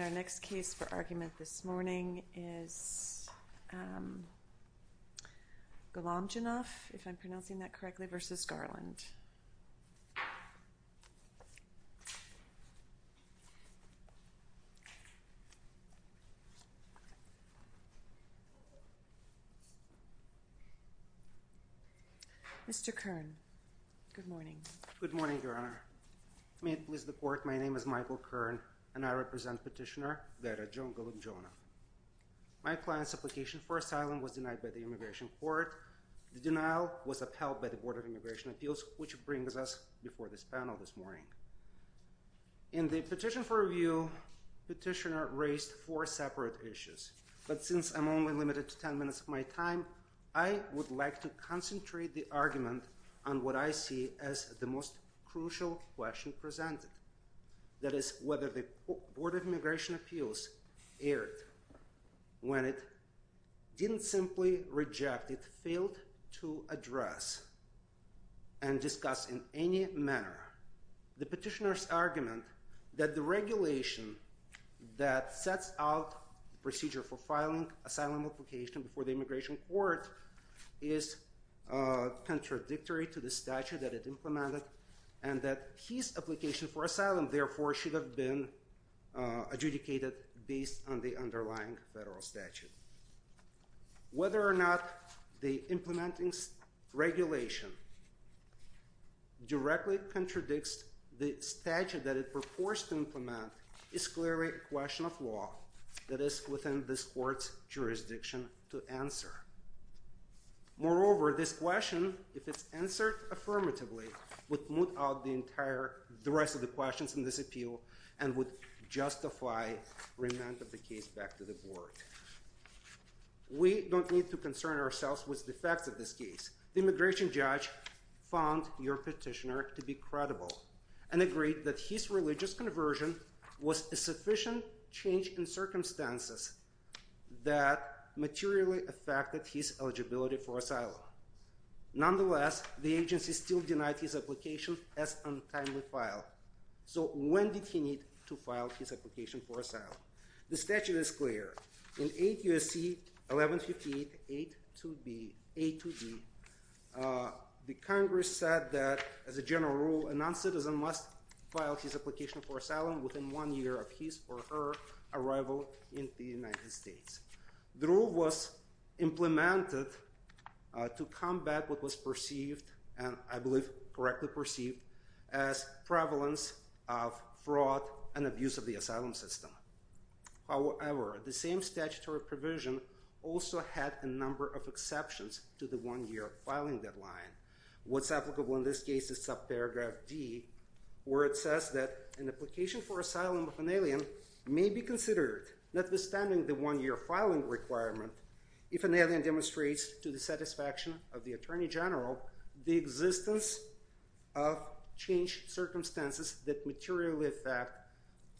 Our next case for argument this morning is Gulomjonov v. Merrick B. Garland. Mr. Kern, good morning. Good morning, Your Honor. May it please the Court, my name is Michael Kern, and I represent Petitioner Verratjon Gulomjonov. My client's application for asylum was denied by the Immigration Court. The denial was upheld by the Board of Immigration Appeals, which brings us before this panel this morning. In the petition for review, Petitioner raised four separate issues, but since I'm only limited to 10 minutes of my time, I would like to concentrate the argument on what I see as the most crucial question presented, that is, whether the Board of Immigration Appeals erred when it didn't simply reject, it failed to address and discuss in any manner the petitioner's argument that the regulation that sets out the procedure for filing an asylum application before the Immigration Court is contradictory to the statute that it implemented, and that his application for asylum, therefore, should have been adjudicated based on the underlying federal statute. Whether or not the implementing regulation directly contradicts the statute that it purports to implement is clearly a question of law that is within this Court's jurisdiction to answer. Moreover, this question, if it's answered affirmatively, would moot out the rest of the questions in this appeal and would justify remand of the case back to the Board. We don't need to concern ourselves with the facts of this case. The immigration judge found your petitioner to be credible and agreed that his religious conversion was a sufficient change in circumstances that materially affected his eligibility for asylum. Nonetheless, the agency still denied his application as untimely filed, so when did he need to file his application for asylum? The statute is clear. In 8 U.S.C. 1158.8.2b, the Congress said that, as a general rule, a noncitizen must file his application for asylum within one year of his or her arrival in the United States. The rule was implemented to combat what was perceived, and I believe correctly perceived, as prevalence of fraud and abuse of the asylum system. However, the same statutory provision also had a number of exceptions to the one-year filing deadline. What's applicable in this case is subparagraph D, where it says that an application for asylum of an alien may be considered, notwithstanding the one-year filing requirement, if an alien demonstrates to the satisfaction of the Attorney General the existence of changed circumstances that materially affect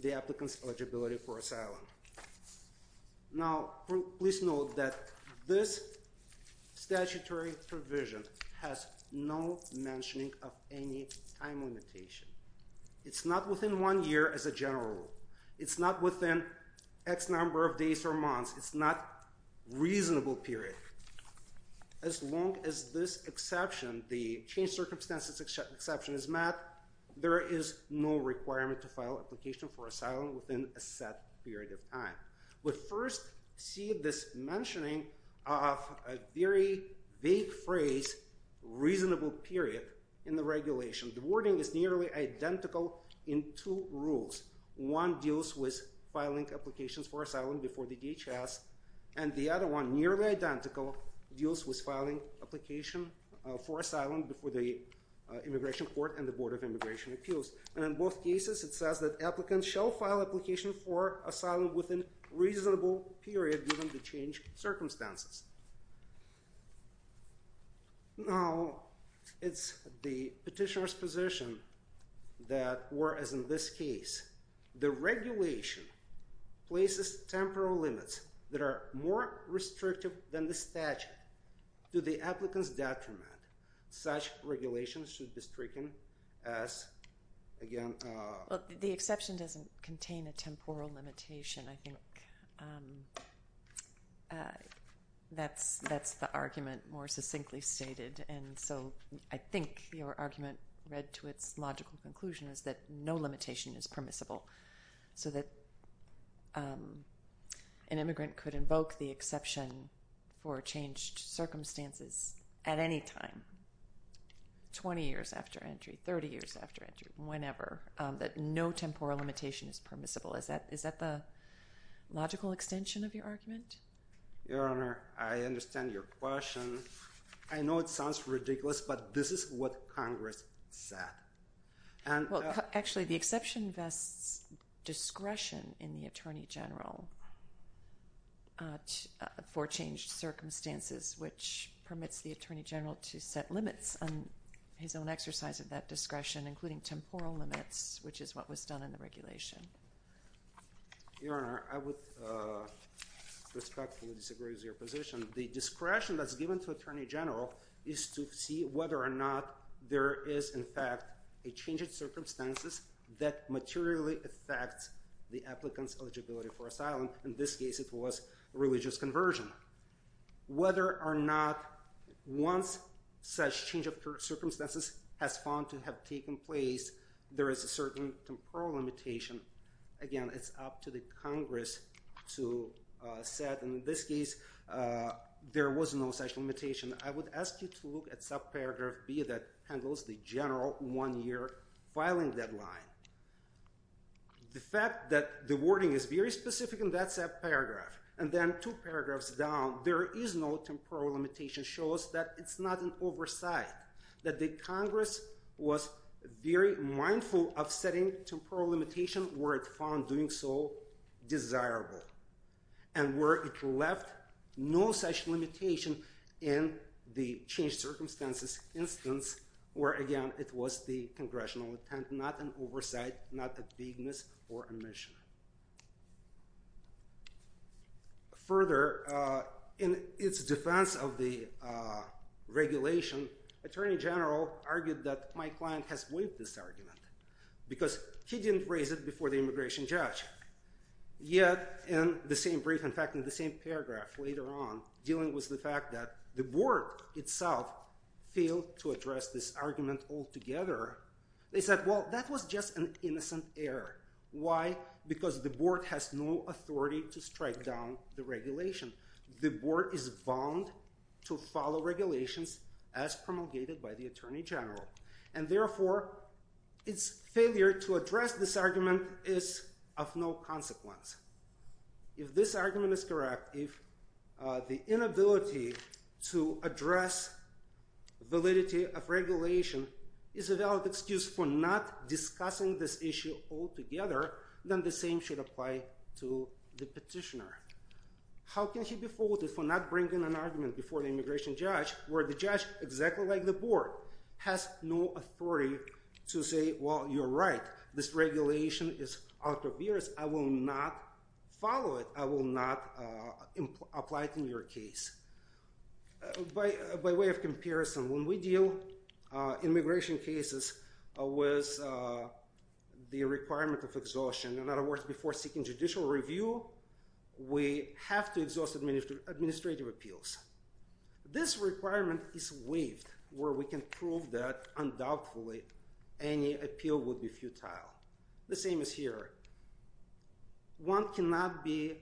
the applicant's eligibility for asylum. Now, please note that this statutory provision has no mentioning of any time limitation. It's not within one year as a general rule. It's not within X number of days or months. It's not a reasonable period. As long as this exception, the changed circumstances exception, is met, there is no requirement to file an application for asylum within a set period of time. But first, see this mentioning of a very vague phrase, reasonable period, in the regulation. The wording is nearly identical in two rules. One deals with filing applications for asylum before the DHS, and the other one, nearly identical, deals with filing application for asylum before the Immigration Court and the Board of Immigration Appeals. And in both cases, it says that applicants shall file application for asylum within reasonable period given the changed circumstances. Now, it's the petitioner's position that, whereas in this case, the regulation places temporal limits that are more restrictive than the statute, to the applicant's detriment, such regulations should be stricken as, again... Well, the exception doesn't contain a temporal limitation. I think that's the argument more succinctly stated. And so I think your argument, read to its logical conclusion, is that no limitation is permissible, so that an immigrant could invoke the exception for changed circumstances at any time, 20 years after entry, 30 years after entry, whenever, that no temporal limitation is permissible. Is that the logical extension of your argument? Your Honor, I understand your question. I know it sounds ridiculous, but this is what Congress said. Well, actually, the exception vests discretion in the Attorney General for changed circumstances, which permits the Attorney General to set limits on his own exercise of that discretion, including temporal limits, which is what was done in the regulation. Your Honor, I would respectfully disagree with your position. The discretion that's given to Attorney General is to see whether or not there is, in fact, a change of circumstances that materially affects the applicant's eligibility for asylum. In this case, it was religious conversion. Whether or not, once such change of circumstances has found to have taken place, there is a certain temporal limitation, again, it's up to the Congress to set. In this case, there was no such limitation. I would ask you to look at subparagraph B that handles the general one-year filing deadline. The fact that the wording is very specific in that subparagraph, and then two paragraphs down, there is no temporal limitation shows that it's not an oversight, that the Congress was very mindful of setting temporal limitations where it found doing so desirable, and where it left no such limitation in the changed circumstances instance, where, again, it was the Congressional intent, not an oversight, not a bigness or omission. Further, in its defense of the regulation, Attorney General argued that my client has waived this argument, because he didn't raise it before the immigration judge. Yet, in the same brief, in fact, in the same paragraph later on, dealing with the fact that the Board itself failed to address this argument altogether, they said, well, that was just an innocent error. Why? Because the Board has no authority to strike down the regulation. The Board is bound to follow regulations as promulgated by the Attorney General. And therefore, its failure to address this argument is of no consequence. If this argument is correct, if the inability to address validity of regulation is a valid excuse for not discussing this issue altogether, then the same should apply to the petitioner. How can he be faulted for not bringing an argument before the immigration judge, where the judge, exactly like the Board, has no authority to say, well, you're right. This regulation is out of years. I will not follow it. I will not apply it in your case. By way of comparison, when we deal with immigration cases with the requirement of exhaustion, in other words, before seeking judicial review, we have to exhaust administrative appeals. This requirement is waived, where we can prove that undoubtedly any appeal would be futile. The same is here. One cannot be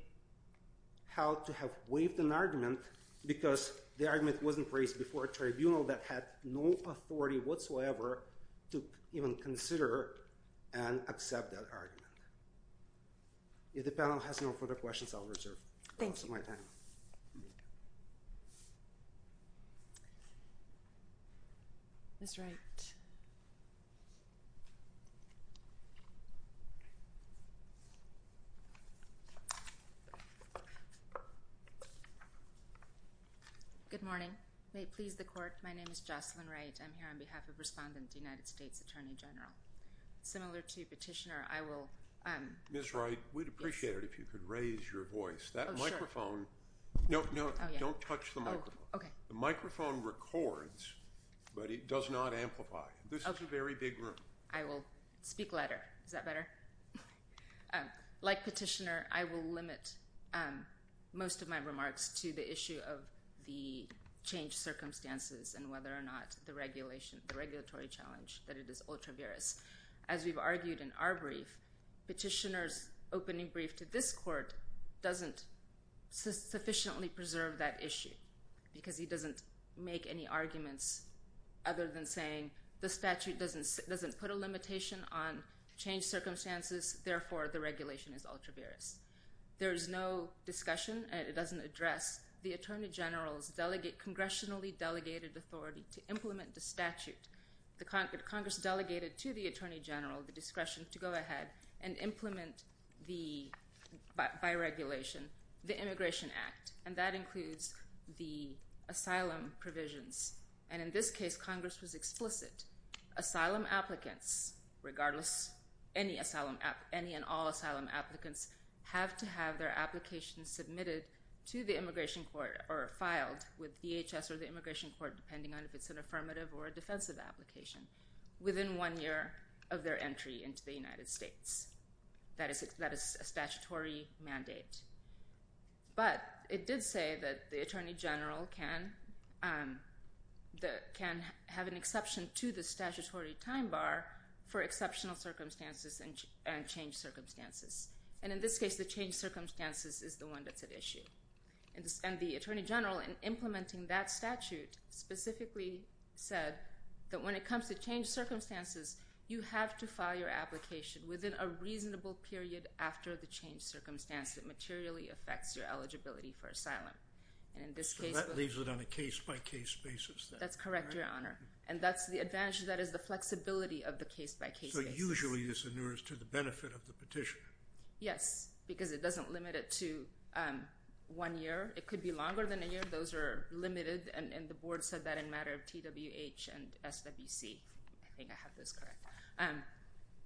held to have waived an argument because the argument wasn't raised before a tribunal that had no authority whatsoever to even consider and accept that argument. If the panel has no further questions, I'll reserve my time. Thank you. Ms. Wright. Good morning. May it please the Court, my name is Jocelyn Wright. I'm here on behalf of Respondent, United States Attorney General. Similar to Petitioner, I will— Ms. Wright, we'd appreciate it if you could raise your voice. No, no, don't touch the microphone. The microphone records, but it does not amplify. This is a very big room. I will speak louder. Is that better? Like Petitioner, I will limit most of my remarks to the issue of the changed circumstances and whether or not the regulatory challenge, that it is ultra-virus. As we've argued in our brief, Petitioner's opening brief to this Court doesn't sufficiently preserve that issue because he doesn't make any arguments other than saying the statute doesn't put a limitation on changed circumstances, therefore the regulation is ultra-virus. There is no discussion and it doesn't address the Attorney General's congressionally delegated authority to implement the statute. Congress delegated to the Attorney General the discretion to go ahead and implement the, by regulation, the Immigration Act. And that includes the asylum provisions. And in this case, Congress was explicit. Asylum applicants, regardless any and all asylum applicants, have to have their application submitted to the Immigration Court or filed with DHS or the Immigration Court, depending on if it's an affirmative or a defensive application, within one year of their entry into the United States. That is a statutory mandate. But it did say that the Attorney General can have an exception to the statutory time bar for exceptional circumstances and changed circumstances. And in this case, the changed circumstances is the one that's at issue. And the Attorney General, in implementing that statute, specifically said that when it comes to changed circumstances, you have to file your application within a reasonable period after the changed circumstance that materially affects your eligibility for asylum. And in this case... So that leaves it on a case-by-case basis then? That's correct, Your Honor. And that's the advantage, that is the flexibility of the case-by-case basis. So usually this inures to the benefit of the petition? Yes, because it doesn't limit it to one year. It could be longer than a year. Those are limited, and the Board said that in matter of TWH and SWC. I think I have those correct.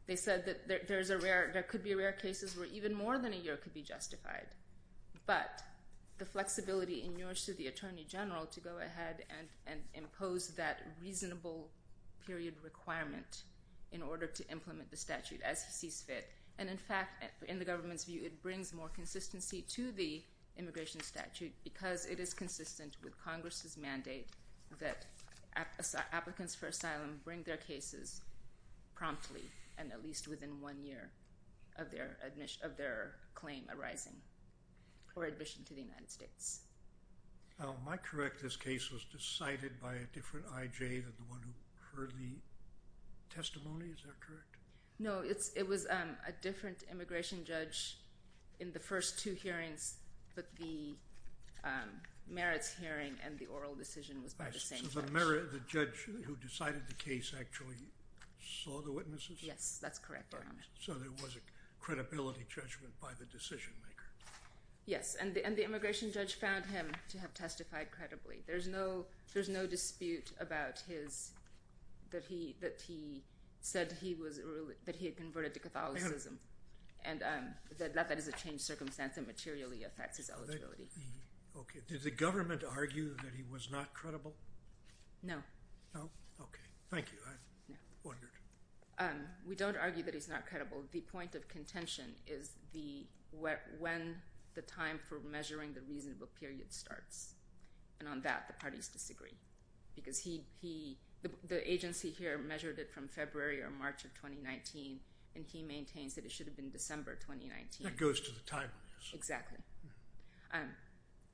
They said that there could be rare cases where even more than a year could be justified. But the flexibility inures to the Attorney General to go ahead and impose that reasonable period requirement in order to implement the statute as he sees fit. And in fact, in the government's view, it brings more consistency to the immigration statute because it is consistent with Congress's mandate that applicants for asylum bring their cases promptly and at least within one year of their claim arising or admission to the United States. Am I correct that this case was decided by a different IJ than the one who heard the testimony? Is that correct? No, it was a different immigration judge in the first two hearings, but the merits hearing and the oral decision was by the same judge. So the judge who decided the case actually saw the witnesses? Yes, that's correct, Your Honor. So there was a credibility judgment by the decision-maker? Yes, and the immigration judge found him to have testified credibly. There's no dispute that he said that he had converted to Catholicism and that that is a changed circumstance that materially affects his eligibility. Okay. Did the government argue that he was not credible? No. No? Okay. Thank you. I wondered. We don't argue that he's not credible. The point of contention is when the time for measuring the reasonable period starts. And on that, the parties disagree. Because the agency here measured it from February or March of 2019, and he maintains that it should have been December 2019. That goes to the timeliness. Exactly.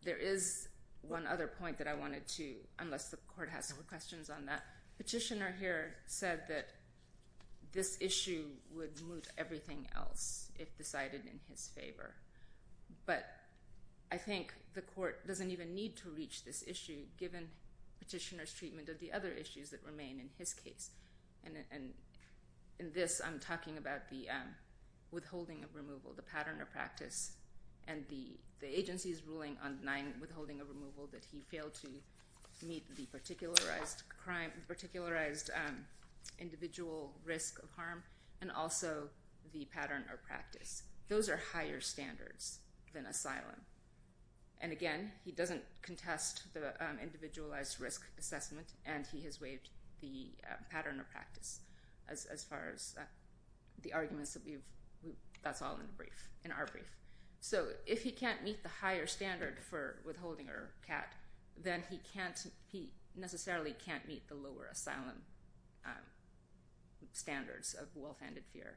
There is one other point that I wanted to, unless the court has more questions on that. Petitioner here said that this issue would move everything else if decided in his favor. But I think the court doesn't even need to reach this issue given petitioner's treatment of the other issues that remain in his case. And in this, I'm talking about the withholding of removal, the pattern of practice, and the agency's ruling on 9, withholding of removal, that he failed to meet the particularized individual risk of harm, and also the pattern of practice. Those are higher standards than asylum. And again, he doesn't contest the individualized risk assessment, and he has waived the pattern of practice as far as the arguments that we've, that's all in the brief, in our brief. So if he can't meet the higher standard for withholding or CAT, then he can't, he necessarily can't meet the lower asylum standards of well-founded fear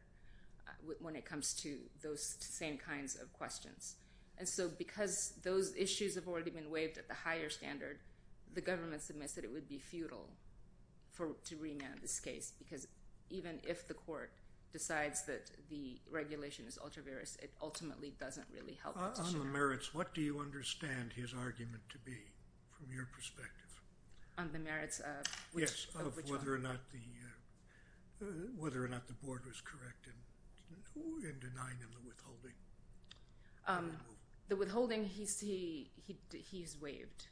when it comes to those same kinds of questions. And so because those issues have already been waived at the higher standard, the government submits that it would be futile to remand this case because even if the court decides that the regulation is ultra-various, it ultimately doesn't really help. On the merits, what do you understand his argument to be from your perspective? On the merits of which argument? Whether or not the board was correct in denying him the withholding. The withholding, he's waived.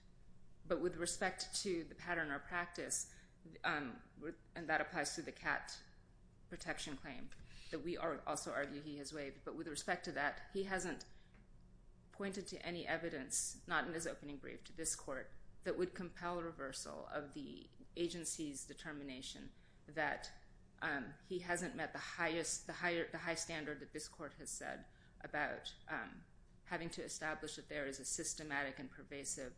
But with respect to the pattern of practice, and that applies to the CAT protection claim that we also argue he has waived. But with respect to that, he hasn't pointed to any evidence, not in his opening brief to this court, that would compel reversal of the agency's determination that he hasn't met the high standard that this court has said about having to establish that there is a systematic and pervasive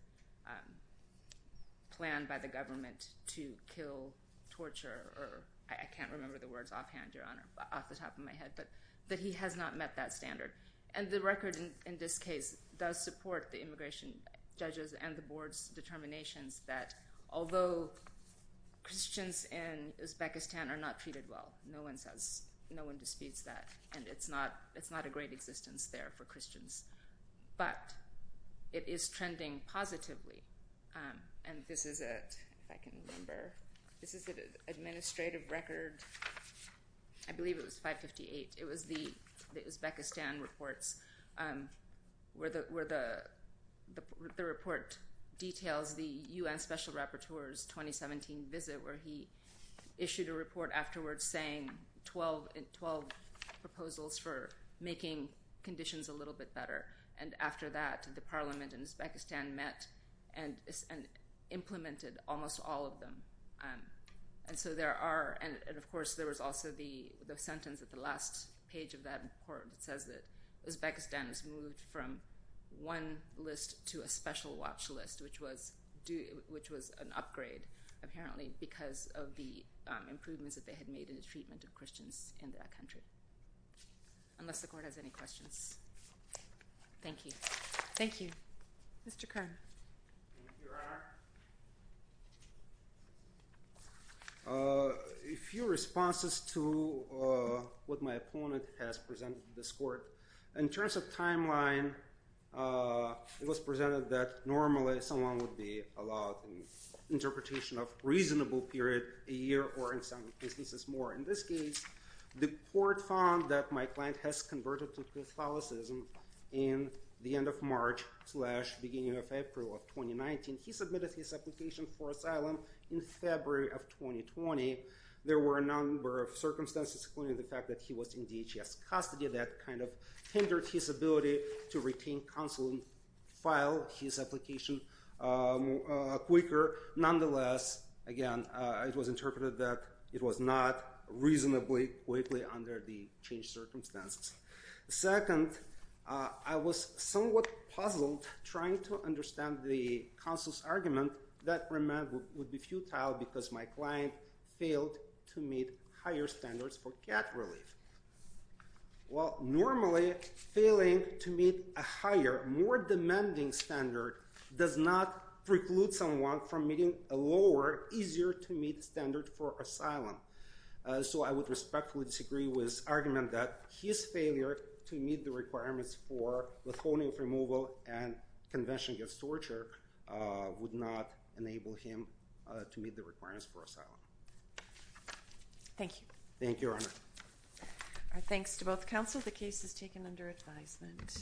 plan by the government to kill, torture, or I can't remember the words offhand, Your Honor, off the top of my head, but that he has not met that standard. And the record in this case does support the immigration judges and the board's determinations that although Christians in Uzbekistan are not treated well, no one disputes that, and it's not a great existence there for Christians, but it is trending positively. And this is it, if I can remember. This is the administrative record. I believe it was 558. It was the Uzbekistan reports where the report details the U.N. Special Rapporteur's 2017 visit where he issued a report afterwards saying 12 proposals for making conditions a little bit better, and after that the parliament in Uzbekistan met and implemented almost all of them. And so there are, and of course there was also the sentence at the last page of that report that says that Uzbekistan has moved from one list to a special watch list, which was an upgrade apparently because of the improvements that they had made in the treatment of Christians in that country. Unless the court has any questions. Thank you. Thank you. Mr. Kern. Thank you, Your Honor. A few responses to what my opponent has presented to this court. In terms of timeline, it was presented that normally someone would be allowed an interpretation of a reasonable period, a year or in some cases more. In this case, the court found that my client has converted to Catholicism in the end of March slash beginning of April of 2019. He submitted his application for asylum in February of 2020. There were a number of circumstances including the fact that he was in DHS custody that kind of hindered his ability to retain counsel and file his application quicker. Nonetheless, again, it was interpreted that it was not reasonably quickly under the changed circumstances. Second, I was somewhat puzzled trying to understand the counsel's argument that remand would be futile because my client failed to meet higher standards for cat relief. Well, normally failing to meet a higher, more demanding standard does not preclude someone from meeting a lower, easier to meet standard for asylum. So I would respectfully disagree with his argument that his failure to meet the requirements for Lithuanian removal and Convention against Torture would not enable him to meet the requirements for asylum. Thank you. Thank you, Your Honor. Our thanks to both counsel. The case is taken under advisement.